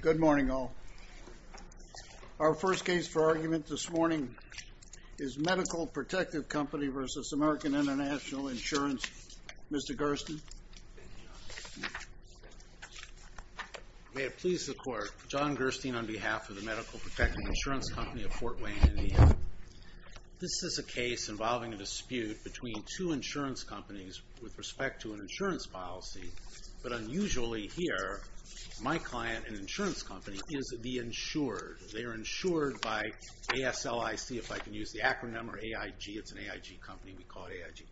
Good morning, all. Our first case for argument this morning is Medical Protective Company v. American International Insurance. Mr. Gerstein? May it please the Court, John Gerstein on behalf of the Medical Protective Insurance Company of Fort Wayne, Indiana. This is a case involving a dispute between two insurance companies with respect to an insurance policy, but unusually here, my client, an insurance company, is the insured. They are insured by ASLIC, if I can use the acronym, or AIG, it's an AIG company, we call it AIG.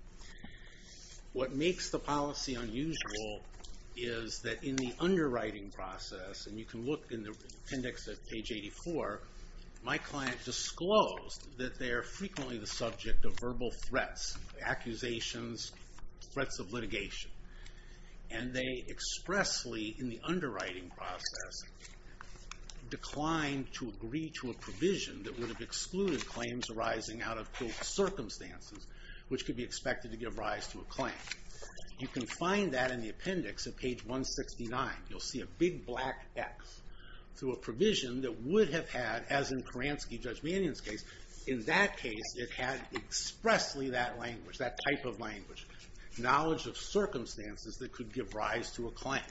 What makes the policy unusual is that in the underwriting process, and you can look in the appendix at page 84, my client disclosed that they are frequently the subject of verbal threats, accusations, threats of litigation, and they expressly, in the underwriting process, declined to agree to a provision that would have excluded claims arising out of circumstances, which could be expected to give rise to a claim. You can find that in the appendix at page 169. You'll see a big black X through a provision that would have had, as in Kuransky, Judge Mannion's case, in that case, it had expressly that language, that type of language, knowledge of circumstances that could give rise to a claim.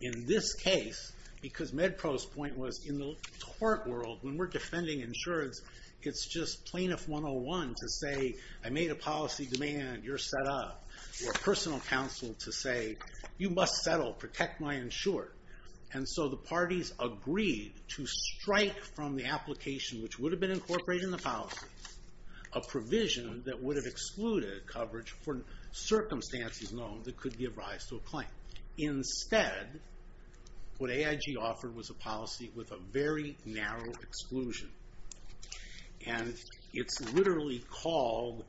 In this case, because MedPro's point was, in the court world, when we're defending insurance, it's just plaintiff 101 to say, I made a policy demand, you're set up, or personal counsel to say, you must settle, protect my insured. And so the parties agreed to strike from the application, which would have been incorporated in the policy, a provision that would have excluded coverage for circumstances known that could give rise to a claim. Instead, what AIG offered was a policy with a very narrow exclusion. And it's literally called,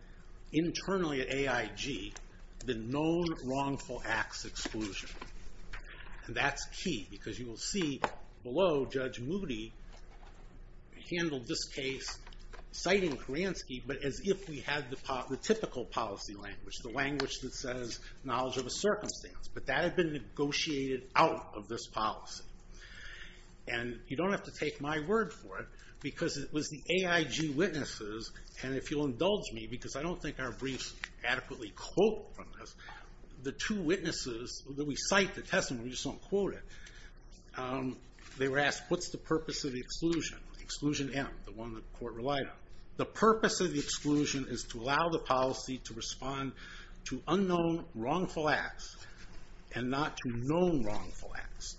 internally at AIG, the known wrongful acts exclusion. And that's key, because you will see below, Judge Moody handled this case, citing Kuransky, but as if we had the typical policy language, the language that says knowledge of a circumstance. But that had been negotiated out of this policy. And you don't have to take my word for it, because it was the AIG witnesses, and if you'll indulge me, because I don't think our briefs adequately quote from this, the two witnesses that we cite the testimony, we just don't quote it. They were asked, what's the purpose of the exclusion? Exclusion M, the one the court relied on. The purpose of the exclusion is to allow the policy to respond to unknown wrongful acts, and not to known wrongful acts.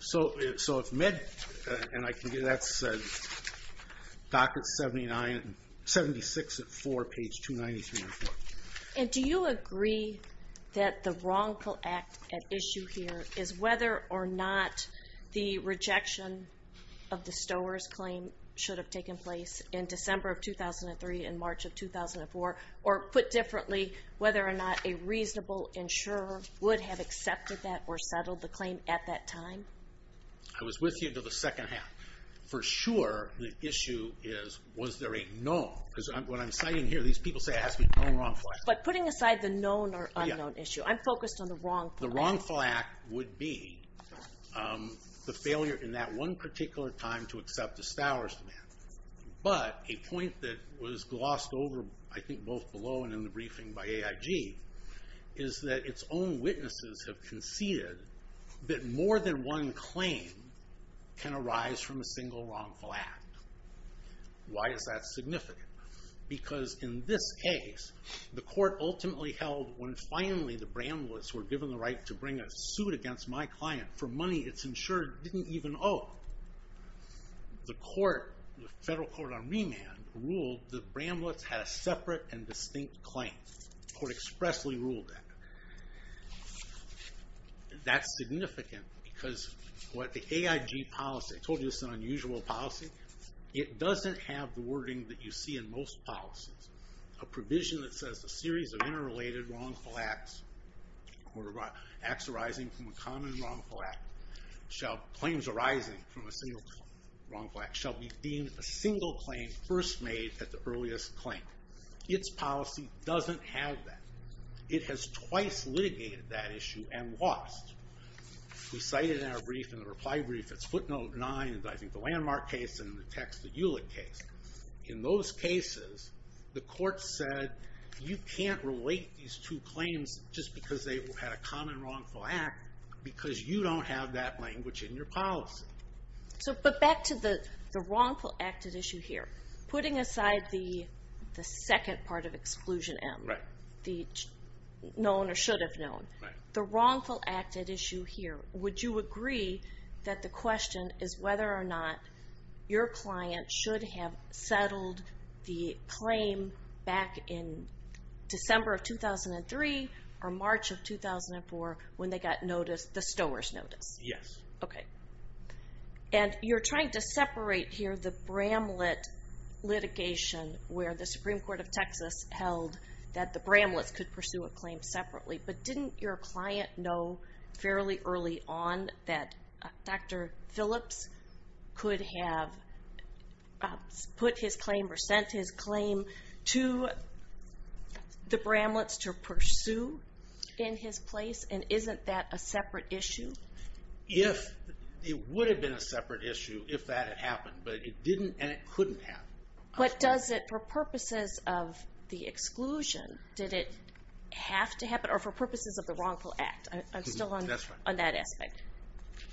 So if Med, and I can get, that's docket 79, 76 at four, page 290, 314. And do you agree that the wrongful act at issue here is whether or not the rejection of the Stowers claim should have taken place in December of 2003 and March of 2004, or put differently, whether or not a reasonable insurer would have accepted that or settled the claim at that time? I was with you until the second half. For sure, the issue is, was there a known? Because what I'm citing here, these people say I asked for a known wrongful act. But putting aside the known or unknown issue, I'm focused on the wrongful act. And that would be the failure in that one particular time to accept the Stowers demand. But a point that was glossed over, I think, both below and in the briefing by AIG, is that its own witnesses have conceded that more than one claim can arise from a single wrongful act. Why is that significant? Because in this case, the court ultimately held when finally the Bramblets were given the right to bring a suit against my client for money it's insured didn't even owe. The federal court on remand ruled the Bramblets had a separate and distinct claim. The court expressly ruled that. That's significant because what the AIG policy, I told you it's an unusual policy, it doesn't have the wording that you see in most policies. A provision that says a series of interrelated wrongful acts, or acts arising from a common wrongful act, claims arising from a single wrongful act, shall be deemed a single claim first made at the earliest claim. It's policy doesn't have that. It has twice litigated that issue and lost. We cited in our brief, in the reply brief, it's footnote nine, I think the landmark case, and in the text the Hewlett case. In those cases, the court said you can't relate these two claims just because they had a common wrongful act because you don't have that language in your policy. But back to the wrongful act at issue here, putting aside the second part of exclusion M, the known or should have known, the wrongful act at issue here, would you agree that the question is whether or not your client should have settled the claim back in December of 2003 or March of 2004 when they got notice, the Stowers notice? Yes. Okay. And you're trying to separate here the Bramlett litigation where the Supreme Court of Texas held that the Bramletts could pursue a claim separately, but didn't your client know fairly early on that Dr. Phillips could have put his claim or sent his claim to the Bramletts to pursue in his place? And isn't that a separate issue? It would have been a separate issue if that had happened, but it didn't and it couldn't have. But does it, for purposes of the exclusion, did it have to happen, or for purposes of the wrongful act? I'm still on that aspect.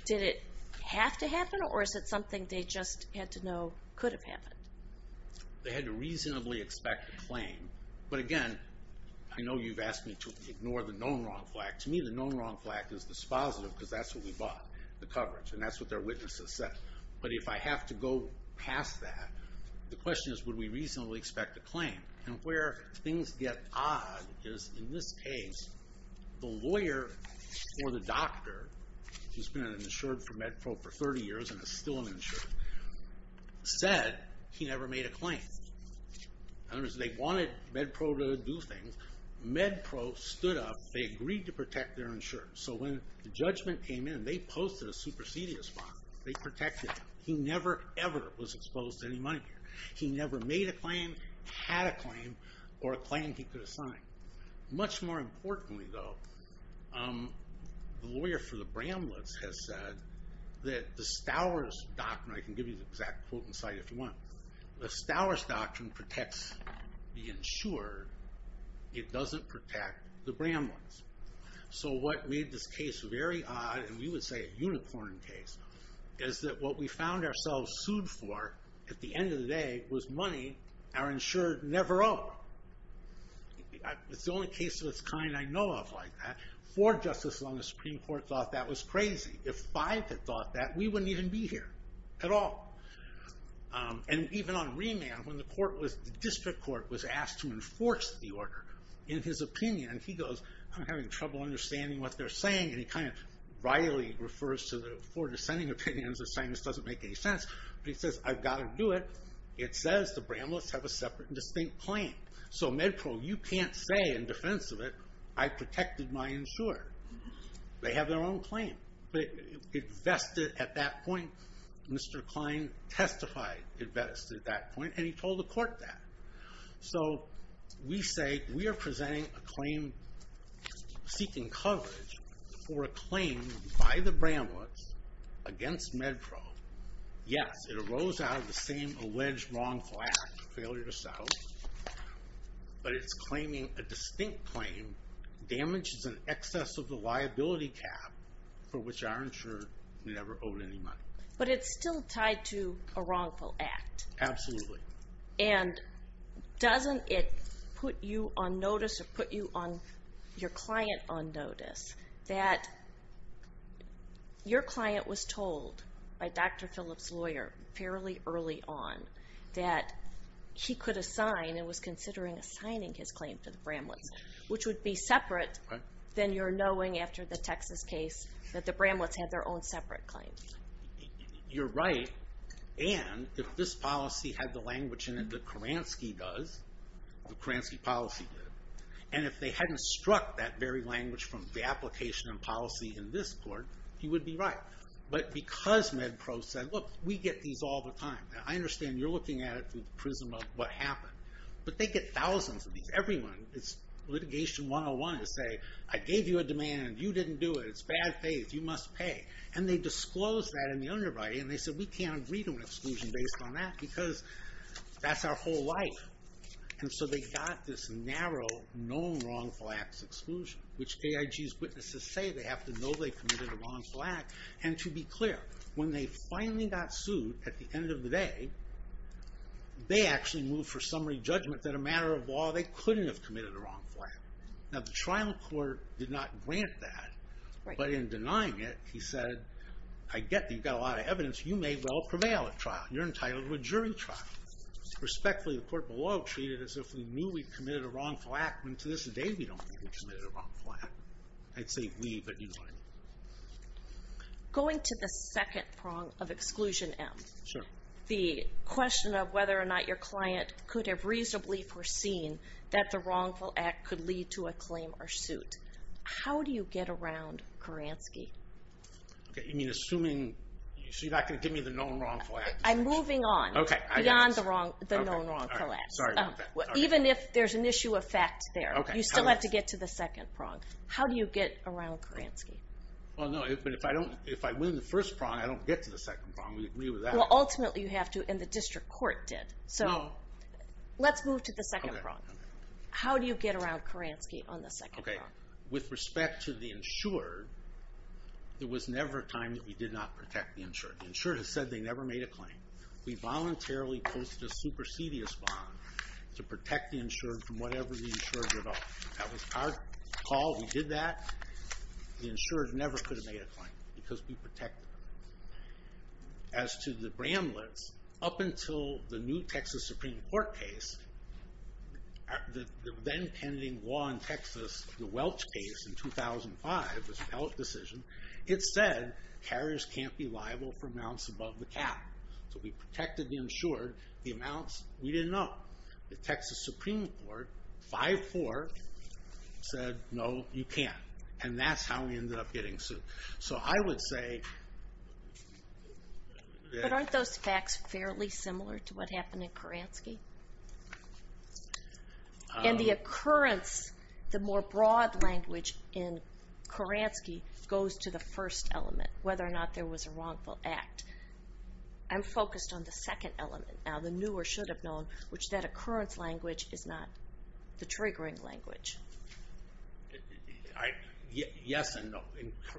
Did it have to happen or is it something they just had to know could have happened? They had to reasonably expect a claim. But again, I know you've asked me to ignore the known wrongful act. To me, the known wrongful act is dispositive because that's what we bought, the coverage, and that's what their witnesses said. But if I have to go past that, the question is would we reasonably expect a claim? And where things get odd is in this case, the lawyer or the doctor, who's been an insured for MedPro for 30 years and is still an insured, said he never made a claim. In other words, they wanted MedPro to do things. MedPro stood up, they agreed to protect their insurance. So when the judgment came in, they posted a supersedious bond. They protected him. He never, ever was exposed to any money. He never made a claim, had a claim, or a claim he could have signed. Much more importantly though, the lawyer for the Bramletts has said that the Stowers Doctrine, I can give you the exact quote and cite if you want. The Stowers Doctrine protects the insured. It doesn't protect the Bramletts. So what made this case very odd, and we would say a unicorn case, is that what we found ourselves sued for at the end of the day was money our insured never owe. It's the only case of its kind I know of like that. Four justices on the Supreme Court thought that was crazy. If five had thought that, we wouldn't even be here at all. And even on remand, when the district court was asked to enforce the order, in his opinion, he goes, I'm having trouble understanding what they're saying. And he kind of wryly refers to the four dissenting opinions as saying this doesn't make any sense. But he says, I've got to do it. It says the Bramletts have a separate and distinct claim. So MedPro, you can't say in defense of it, I protected my insured. They have their own claim. But it vested at that point. Mr. Klein testified it vested at that point. And he told the court that. So we say we are presenting a claim seeking coverage for a claim by the Bramletts against MedPro. Yes, it arose out of the same alleged wrongful act, failure to settle. But it's claiming a distinct claim, damages in excess of the liability cap for which our insurer never owed any money. But it's still tied to a wrongful act. Absolutely. And doesn't it put you on notice or put your client on notice that your client was told by Dr. Phillips' lawyer fairly early on that he could assign and was considering assigning his claim to the Bramletts, which would be separate than your knowing after the Texas case that the Bramletts had their own separate claims. You're right. And if this policy had the language in it that Kuransky does, the Kuransky policy did, and if they hadn't struck that very language from the application and policy in this court, he would be right. But because MedPro said, look, we get these all the time. I understand you're looking at it through the prism of what happened. But they get thousands of these. Everyone, it's litigation 101 to say, I gave you a demand. You didn't do it. It's bad faith. You must pay. And they disclosed that in the underwriting. And they said, we can't agree to an exclusion based on that because that's our whole life. And so they got this narrow, known wrongful acts exclusion, which AIG's witnesses say they have to know they committed a wrongful act. And to be clear, when they finally got sued at the end of the day, they actually moved for summary judgment that a matter of law they couldn't have committed a wrongful act. Now, the trial court did not grant that. But in denying it, he said, I get that you've got a lot of evidence. You may well prevail at trial. You're entitled to a jury trial. Respectfully, the court below treated it as if we knew we'd committed a wrongful act, when to this day we don't think we've committed a wrongful act. I'd say we, but you don't. Going to the second prong of exclusion M, the question of whether or not your client could have reasonably foreseen that the wrongful act could lead to a claim or suit. How do you get around Kuransky? Okay, you mean assuming, so you're not going to give me the known wrongful act? I'm moving on. Okay. Beyond the known wrongful act. Sorry about that. Even if there's an issue of fact there, you still have to get to the second prong. How do you get around Kuransky? Well, no, but if I win the first prong, I don't get to the second prong. We agree with that. Well, ultimately you have to, and the district court did. So let's move to the second prong. How do you get around Kuransky on the second prong? Okay, with respect to the insured, there was never a time that we did not protect the insured. The insured has said they never made a claim. We voluntarily posted a supersedious bond to protect the insured from whatever the insured did. That was our call. We did that. The insured never could have made a claim because we protected them. As to the Bramlett's, up until the new Texas Supreme Court case, the then pending law in Texas, the Welch case in 2005, this appellate decision, it said carriers can't be liable for amounts above the cap. So we protected the insured. The amounts, we didn't know. The Texas Supreme Court, 5-4, said no, you can't. And that's how we ended up getting sued. So I would say that... But aren't those facts fairly similar to what happened in Kuransky? In the occurrence, the more broad language in Kuransky goes to the first element, whether or not there was a wrongful act. I'm focused on the second element, now the new or should have known, which that occurrence language is not the triggering language. Yes and no.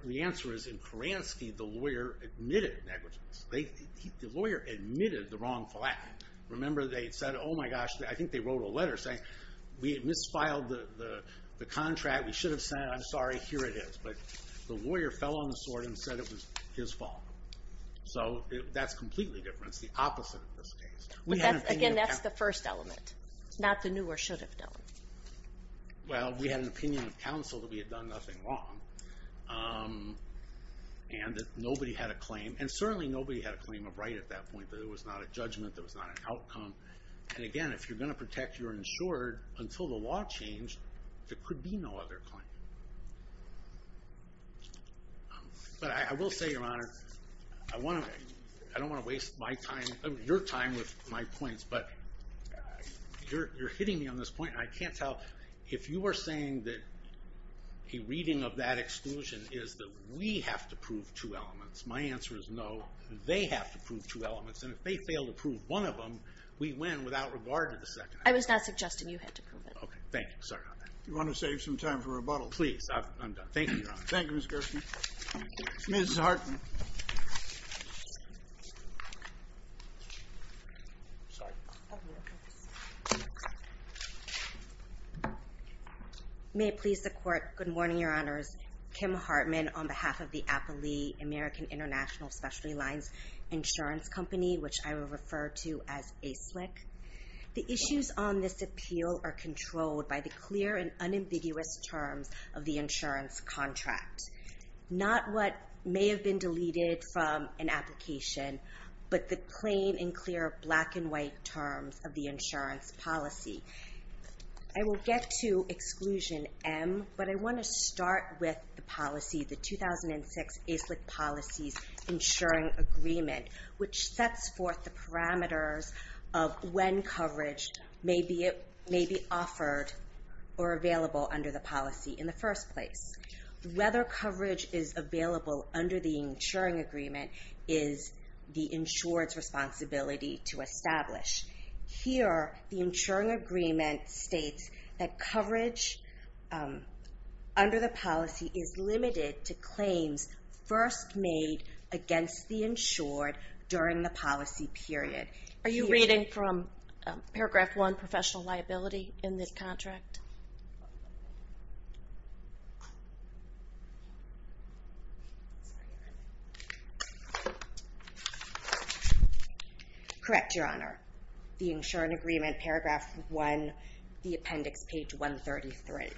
The answer is, in Kuransky, the lawyer admitted negligence. The lawyer admitted the wrongful act. Remember they said, oh my gosh, I think they wrote a letter saying, we had misfiled the contract, we should have sent it, I'm sorry, here it is. But the lawyer fell on the sword and said it was his fault. So that's completely different. It's the opposite of this case. Again, that's the first element. Not the new or should have known. Well, we had an opinion of counsel that we had done nothing wrong. And that nobody had a claim. And certainly nobody had a claim of right at that point. There was not a judgment, there was not an outcome. And again, if you're going to protect your insured until the law changed, there could be no other claim. But I will say, Your Honor, I don't want to waste your time with my points, but you're hitting me on this point, and I can't tell. If you are saying that a reading of that exclusion is that we have to prove two elements, my answer is no. They have to prove two elements. And if they fail to prove one of them, we win without regard to the second element. I was not suggesting you had to prove it. Okay, thank you. Sorry about that. Do you want to save some time for rebuttal? Please, I'm done. Thank you, Your Honor. Thank you, Mr. Gershkin. Ms. Hartman. Thank you. May it please the Court. Good morning, Your Honors. Kim Hartman on behalf of the Appley American International Specialty Lines Insurance Company, which I will refer to as ASIC. The issues on this appeal are controlled by the clear and unambiguous terms of the insurance contract. Not what may have been deleted from an application, but the plain and clear black and white terms of the insurance policy. I will get to exclusion M, but I want to start with the policy, the 2006 ASLIC policies insuring agreement, which sets forth the parameters of when coverage may be offered or available under the policy in the first place. Whether coverage is available under the insuring agreement is the insured's responsibility to establish. Here, the insuring agreement states that coverage under the policy is limited to claims first made against the insured during the policy period. Are you reading from paragraph one, professional liability in this contract? Correct, Your Honor. The insuring agreement, paragraph one, the appendix, page 133.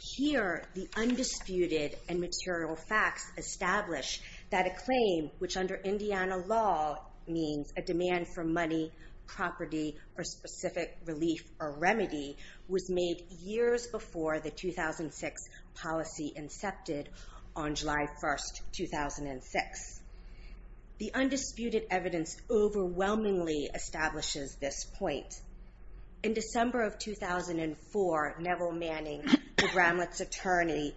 Here, the undisputed and material facts establish that a claim, which under Indiana law means a demand for money, property, or specific relief or remedy, was made years before the 2006 policy incepted on July 1st, 2006. The undisputed evidence overwhelmingly establishes this point. In December of 2004, Neville Manning, the Gramlitz attorney,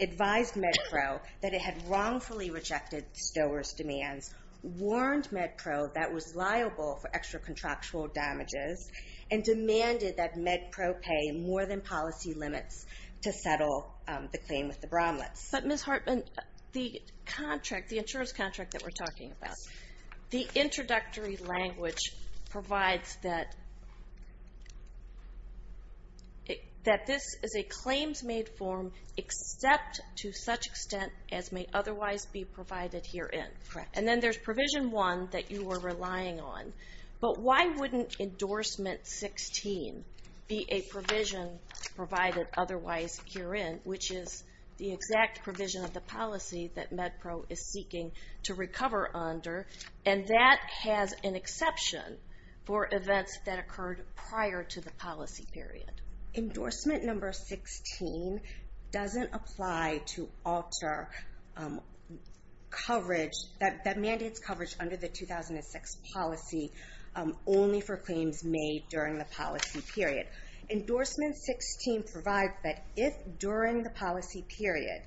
advised MedPro that it had wrongfully rejected Stowers' demands, warned MedPro that was liable for extra contractual damages, and demanded that MedPro pay more than policy limits to settle the claim with the Gramlitz. But, Ms. Hartman, the insurance contract that we're talking about, the introductory language provides that this is a claims-made form except to such extent as may otherwise be provided herein. And then there's provision one that you were relying on. But why wouldn't endorsement 16 be a provision provided otherwise herein, which is the exact provision of the policy that MedPro is seeking to recover under, and that has an exception for events that occurred prior to the policy period? Endorsement number 16 doesn't apply to alter coverage, that mandates coverage under the 2006 policy only for claims made during the policy period. Endorsement 16 provides that if during the policy period,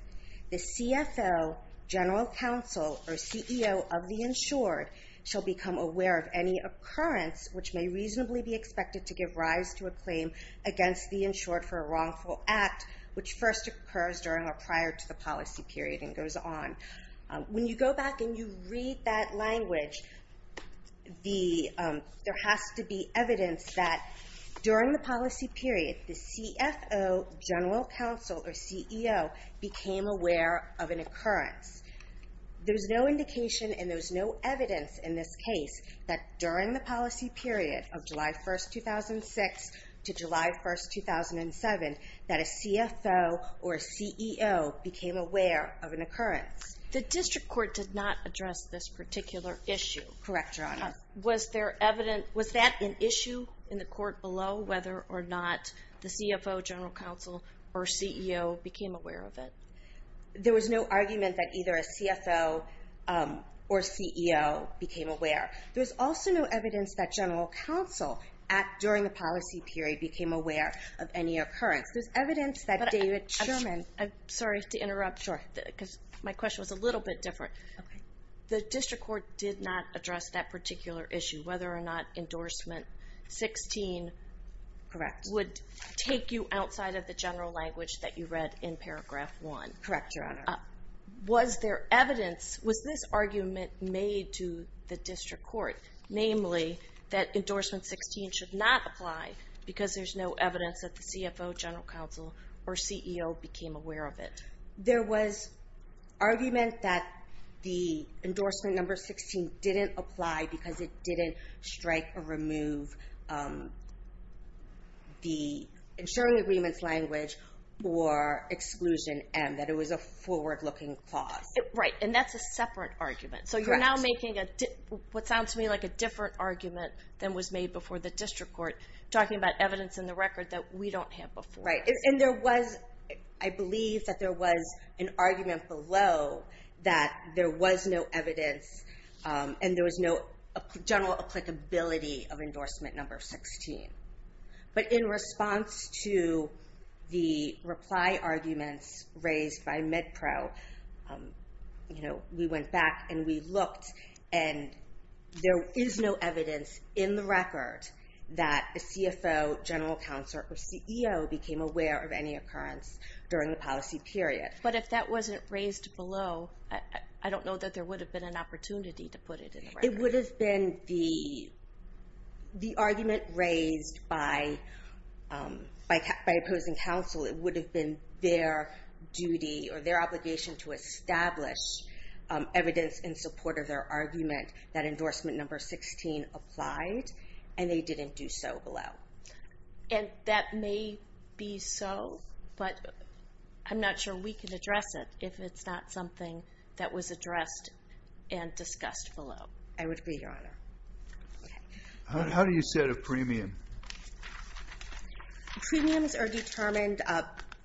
the CFO, general counsel, or CEO of the insured shall become aware of any occurrence which may reasonably be expected to give rise to a claim against the insured for a wrongful act which first occurs during or prior to the policy period and goes on. When you go back and you read that language, there has to be evidence that during the policy period, the CFO, general counsel, or CEO became aware of an occurrence. There's no indication and there's no evidence in this case that during the policy period of July 1, 2006 to July 1, 2007, that a CFO or a CEO became aware of an occurrence. The district court did not address this particular issue. Correct, Your Honor. Was that an issue in the court below, whether or not the CFO, general counsel, or CEO became aware of it? There was no argument that either a CFO or CEO became aware. There was also no evidence that general counsel during the policy period became aware of any occurrence. There's evidence that David Sherman... I'm sorry to interrupt. Sure. Because my question was a little bit different. Okay. The district court did not address that particular issue, whether or not endorsement 16... Correct. ...would take you outside of the general language that you read in paragraph 1. Correct, Your Honor. Was there evidence? Was this argument made to the district court, namely that endorsement 16 should not apply because there's no evidence that the CFO, general counsel, or CEO became aware of it? There was argument that the endorsement number 16 didn't apply because it didn't strike or remove the ensuring agreements language or exclusion M, that it was a forward-looking clause. Right. And that's a separate argument. Correct. So you're now making what sounds to me like a different argument than was made before the district court, talking about evidence in the record that we don't have before. Right. And there was, I believe, that there was an argument below that there was no evidence and there was no general applicability of endorsement number 16. But in response to the reply arguments raised by MedPro, we went back and we looked, and there is no evidence in the record that the CFO, general counsel, or CEO became aware of any occurrence during the policy period. But if that wasn't raised below, I don't know that there would have been an opportunity to put it in the record. It would have been the argument raised by opposing counsel. It would have been their duty or their obligation to establish evidence in support of their argument that endorsement number 16 applied, and they didn't do so below. And that may be so, but I'm not sure we can address it if it's not something that was addressed and discussed below. I would agree, Your Honor. How do you set a premium? Premiums are determined.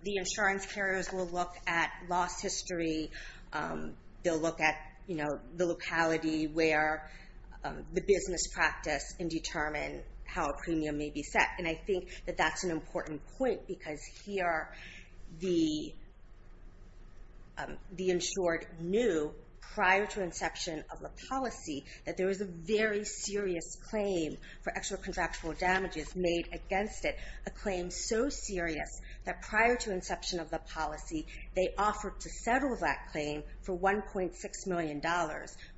The insurance carriers will look at loss history. They'll look at the locality where the business practice and determine how a premium may be set. And I think that that's an important point because here the insured knew prior to inception of the policy that there was a very serious claim for extra contractual damages made against it, a claim so serious that prior to inception of the policy, they offered to settle that claim for $1.6 million,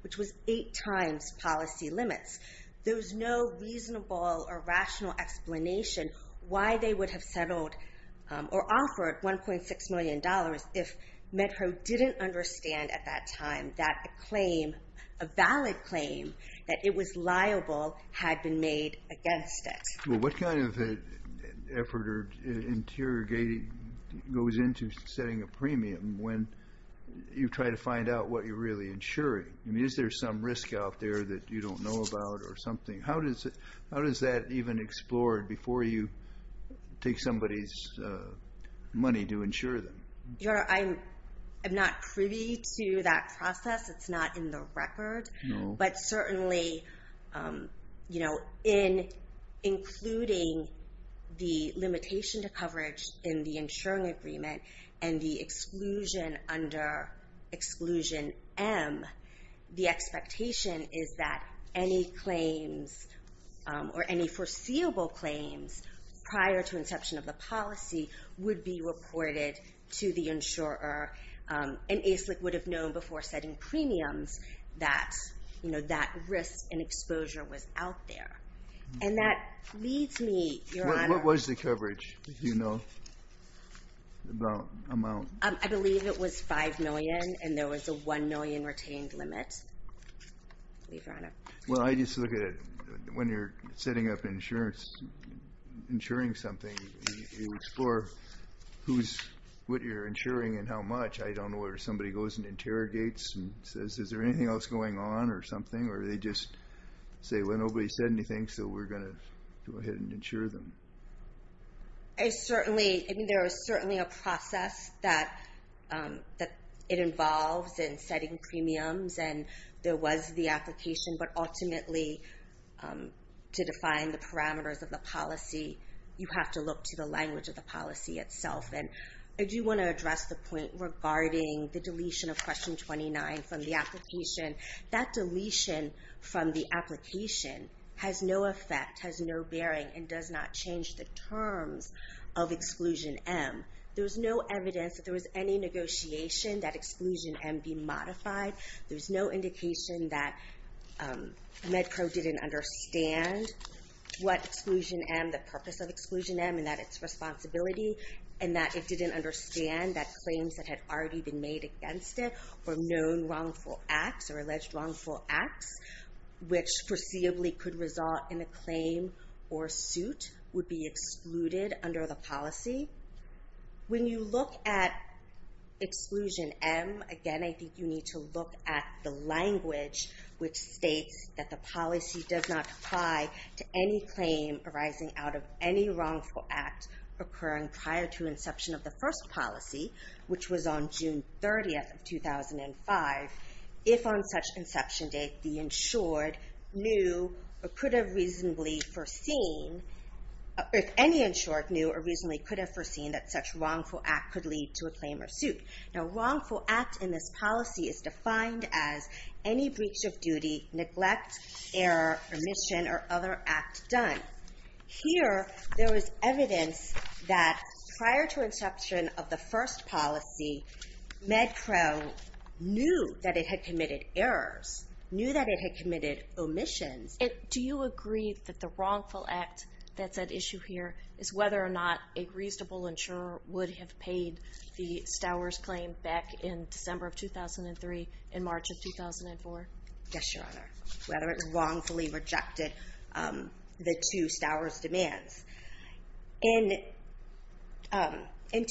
which was eight times policy limits. There was no reasonable or rational explanation why they would have settled or offered $1.6 million if Med-Pro didn't understand at that time that a claim, a valid claim, that it was liable had been made against it. Well, what kind of effort or interrogating goes into setting a premium when you try to find out what you're really insuring? I mean, is there some risk out there that you don't know about or something? How is that even explored before you take somebody's money to insure them? Your Honor, I'm not privy to that process. It's not in the record. But certainly, you know, in including the limitation to coverage in the insuring agreement and the exclusion under Exclusion M, the expectation is that any claims or any foreseeable claims prior to inception of the policy would be reported to the insurer, and ASLIC would have known before setting premiums that, you know, that risk and exposure was out there. And that leads me, Your Honor... I believe it was $5 million, and there was a $1 million retained limit, I believe, Your Honor. Well, I just look at it. When you're setting up insurance, insuring something, you explore who's what you're insuring and how much. I don't know whether somebody goes and interrogates and says, is there anything else going on or something, or they just say, well, nobody said anything, so we're going to go ahead and insure them. I certainly... I mean, there is certainly a process that it involves in setting premiums, and there was the application, but ultimately, to define the parameters of the policy, you have to look to the language of the policy itself. And I do want to address the point regarding the deletion of Question 29 from the application. That deletion from the application has no effect, has no bearing, and does not change the terms of Exclusion M. There's no evidence that there was any negotiation that Exclusion M be modified. There's no indication that MedPro didn't understand what Exclusion M, the purpose of Exclusion M, and that its responsibility, and that it didn't understand that claims that had already been made against it were known wrongful acts or alleged wrongful acts, which foreseeably could result in a claim or suit, would be excluded under the policy. When you look at Exclusion M, again, I think you need to look at the language which states that the policy does not apply to any claim arising out of any wrongful act occurring prior to inception of the first policy, which was on June 30th of 2005, if on such inception date the insured knew or could have reasonably foreseen, if any insured knew or reasonably could have foreseen that such wrongful act could lead to a claim or suit. Now, wrongful act in this policy is defined as any breach of duty, neglect, error, omission, or other act done. Here, there is evidence that prior to inception of the first policy, MedPro knew that it had committed errors, knew that it had committed omissions. Do you agree that the wrongful act that's at issue here is whether or not a reasonable insurer would have paid the Stowers claim back in December of 2003 and March of 2004? Yes, Your Honor. Whether it wrongfully rejected the two Stowers demands. In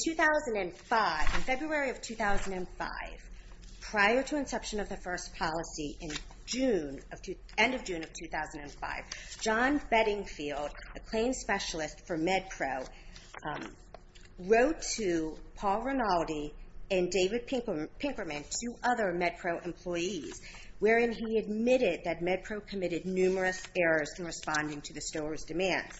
2005, in February of 2005, prior to inception of the first policy, end of June of 2005, John Beddingfield, a claim specialist for MedPro, wrote to Paul Rinaldi and David Pinkerman, two other MedPro employees, wherein he admitted that MedPro committed numerous errors in responding to the Stowers demands.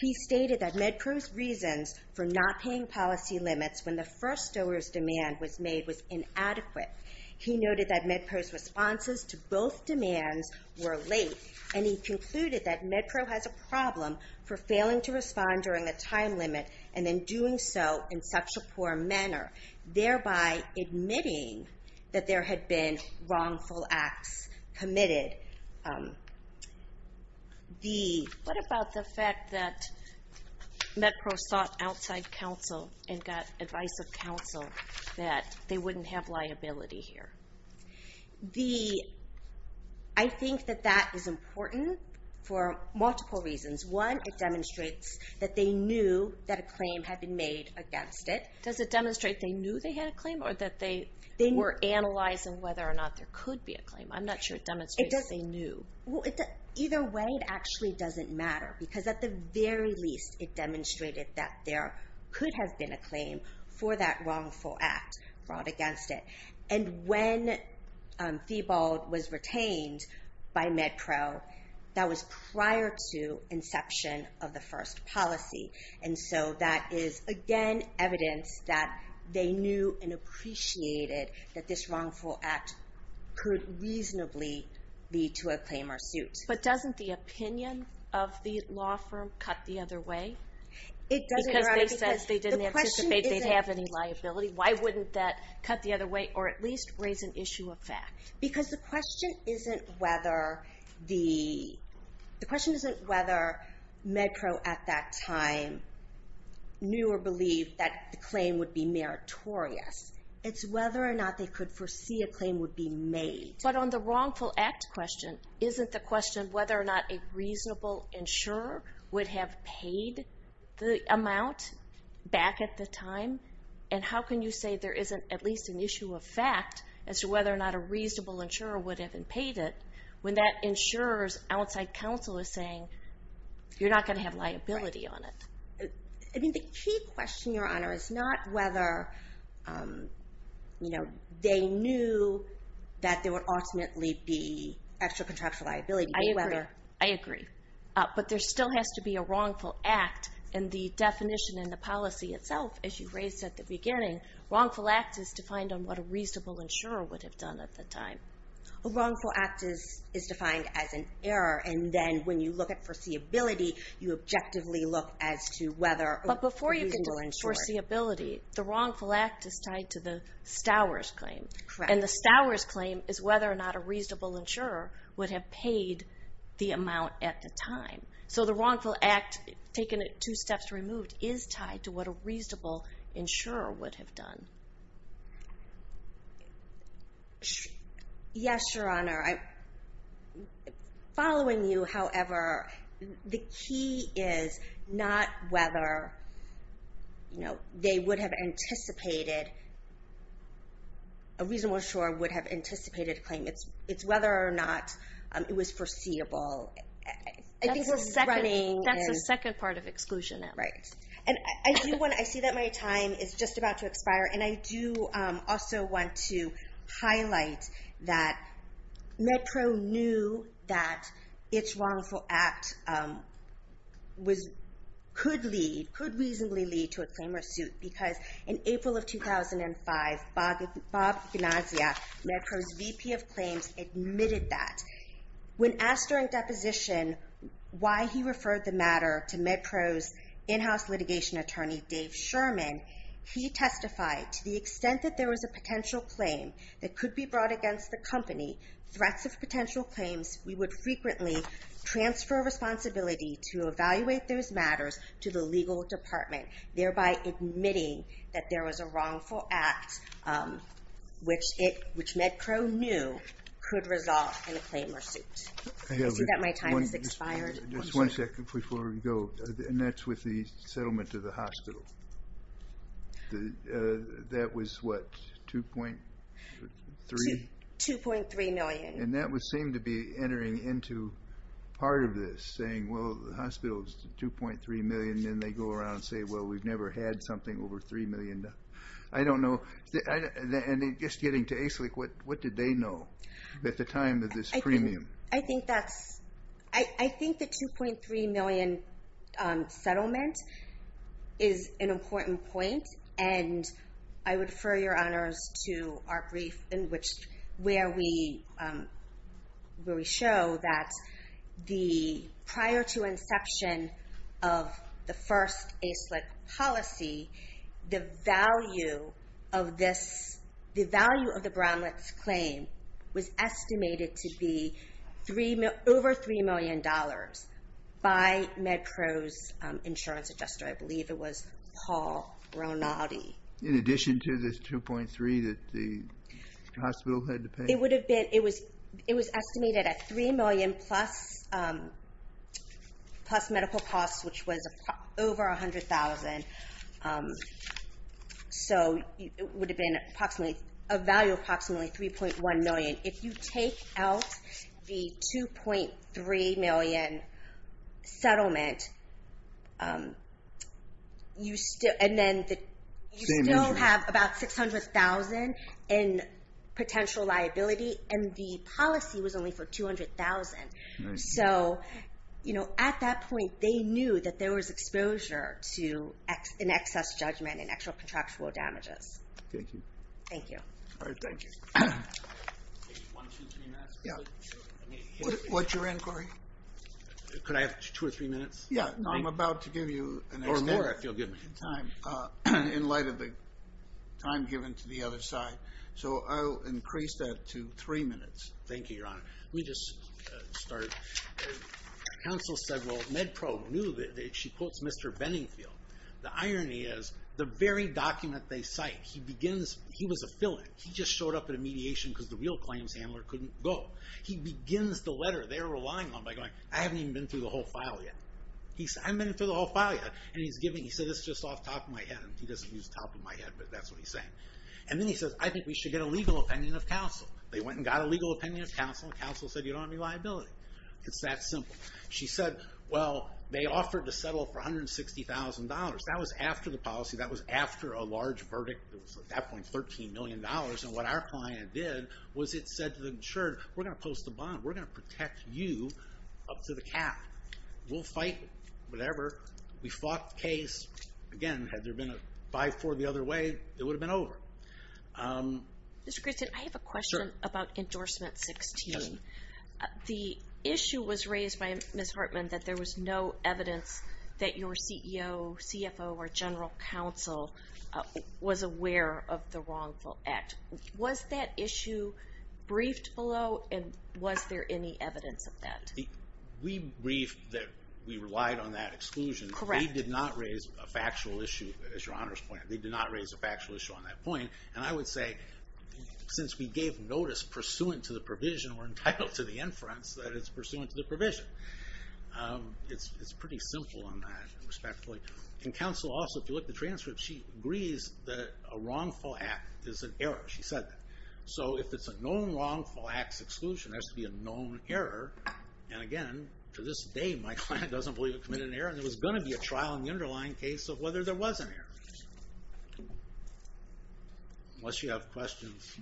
He stated that MedPro's reasons for not paying policy limits when the first Stowers demand was made was inadequate. He noted that MedPro's responses to both demands were late, and he concluded that MedPro has a problem for failing to respond during a time limit and then doing so in such a poor manner, thereby admitting that there had been wrongful acts committed. What about the fact that MedPro sought outside counsel and got advice of counsel that they wouldn't have liability here? I think that that is important for multiple reasons. One, it demonstrates that they knew that a claim had been made against it. Does it demonstrate they knew they had a claim or that they were analyzing whether or not there could be a claim? I'm not sure it demonstrates they knew. Either way, it actually doesn't matter because at the very least, it demonstrated that there could have been a claim for that wrongful act brought against it. And when Feebold was retained by MedPro, that was prior to inception of the first policy. And so that is, again, evidence that they knew and appreciated that this wrongful act could reasonably lead to a claim or suit. But doesn't the opinion of the law firm cut the other way? Because they said they didn't anticipate they'd have any liability. Why wouldn't that cut the other way or at least raise an issue of fact? Because the question isn't whether the... The question isn't whether MedPro at that time knew or believed that the claim would be meritorious. It's whether or not they could foresee a claim would be made. But on the wrongful act question, isn't the question whether or not a reasonable insurer would have paid the amount back at the time? And how can you say there isn't at least an issue of fact as to whether or not a reasonable insurer would have paid it when that insurer's outside counsel is saying you're not going to have liability on it? I mean, the key question, Your Honor, is not whether they knew that there would ultimately be extra-contractual liability, but whether... I agree. But there still has to be a wrongful act and the definition in the policy itself, as you raised at the beginning, wrongful act is defined on what a reasonable insurer would have done at the time. A wrongful act is defined as an error, and then when you look at foreseeability, you objectively look as to whether a reasonable insurer... When you look at foreseeability, the wrongful act is tied to the Stowers claim. Correct. And the Stowers claim is whether or not a reasonable insurer would have paid the amount at the time. So the wrongful act, taking it two steps removed, is tied to what a reasonable insurer would have done. Yes, Your Honor. Following you, however, the key is not whether they would have anticipated... A reasonable insurer would have anticipated a claim. It's whether or not it was foreseeable. I think we're running... That's the second part of exclusion there. Right. And I see that my time is just about to expire, and I do also want to highlight that MedPro knew that its wrongful act could reasonably lead to a claim or suit because in April of 2005, Bob Ignacia, MedPro's VP of Claims, admitted that. When asked during deposition why he referred the matter to MedPro's in-house litigation attorney, Dave Sherman, he testified, to the extent that there was a potential claim that could be brought against the company, threats of potential claims, we would frequently transfer responsibility to evaluate those matters to the legal department, thereby admitting that there was a wrongful act which MedPro knew could result in a claim or suit. I see that my time has expired. Just one second before we go, and that's with the settlement of the hospital. That was what, 2.3? 2.3 million. And that would seem to be entering into part of this, saying, well, the hospital's 2.3 million, and then they go around and say, well, we've never had something over 3 million. I don't know. And just getting to ASLIC, what did they know at the time of this premium? I think that's, I think the 2.3 million settlement is an important point, and I would refer your honors to our brief where we show that prior to inception of the first ASLIC policy, the value of this, the value of the Brownletts' claim was estimated to be over $3 million by MedPro's insurance adjuster. I believe it was Paul Ronati. In addition to this 2.3 that the hospital had to pay? It would have been, it was estimated at 3 million plus medical costs, which was over $100,000. So it would have been approximately, a value of approximately 3.1 million. If you take out the 2.3 million settlement, you still have about $600,000 in potential liability, and the policy was only for $200,000. So at that point, they knew that there was exposure to an excess judgment and actual contractual damages. Thank you. Thank you. Thank you. One, two, three minutes? What's your inquiry? Could I have two or three minutes? Yeah, I'm about to give you an extended time in light of the time given to the other side. So I'll increase that to three minutes. Thank you, Your Honor. Let me just start. Counsel said, well, MedPro knew that, she quotes Mr. Benningfield. The irony is, the very document they cite, he begins, he was a fill-in. He just showed up at a mediation because the real claims handler couldn't go. He begins the letter they were relying on by going, I haven't even been through the whole file yet. He said, I haven't been through the whole file yet. And he said, this is just off the top of my head. He doesn't use the top of my head, but that's what he's saying. And then he says, I think we should get a legal opinion of counsel. They went and got a legal opinion of counsel, and counsel said, you don't have any liability. It's that simple. She said, well, they offered to settle for $160,000. That was after the policy. That was after a large verdict. It was, at that point, $13 million. And what our client did was it said to the insured, we're going to post a bond. We're going to protect you up to the cap. We'll fight whatever. We fought the case. Again, had there been a 5-4 the other way, it would have been over. Mr. Christin, I have a question about endorsement 16. The issue was raised by Ms. Hartman that there was no evidence that your CEO, CFO, or general counsel was aware of the wrongful act. Was that issue briefed below, and was there any evidence of that? We briefed that we relied on that exclusion. They did not raise a factual issue, as your honors pointed out. They did not raise a factual issue on that point. And I would say, since we gave notice pursuant to the provision or entitled to the inference, that it's pursuant to the provision. And counsel also, if you look at the transcript, she agrees that a wrongful act is an error. She said that. So if it's a known wrongful acts exclusion, there has to be a known error. And again, to this day, my client doesn't believe he committed an error. And there was going to be a trial in the underlying case of whether there was an error. Unless you have questions.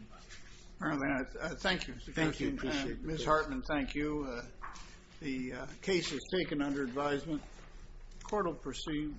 Thank you. Thank you. Ms. Hartman, thank you. The case is taken under advisement. The court will proceed.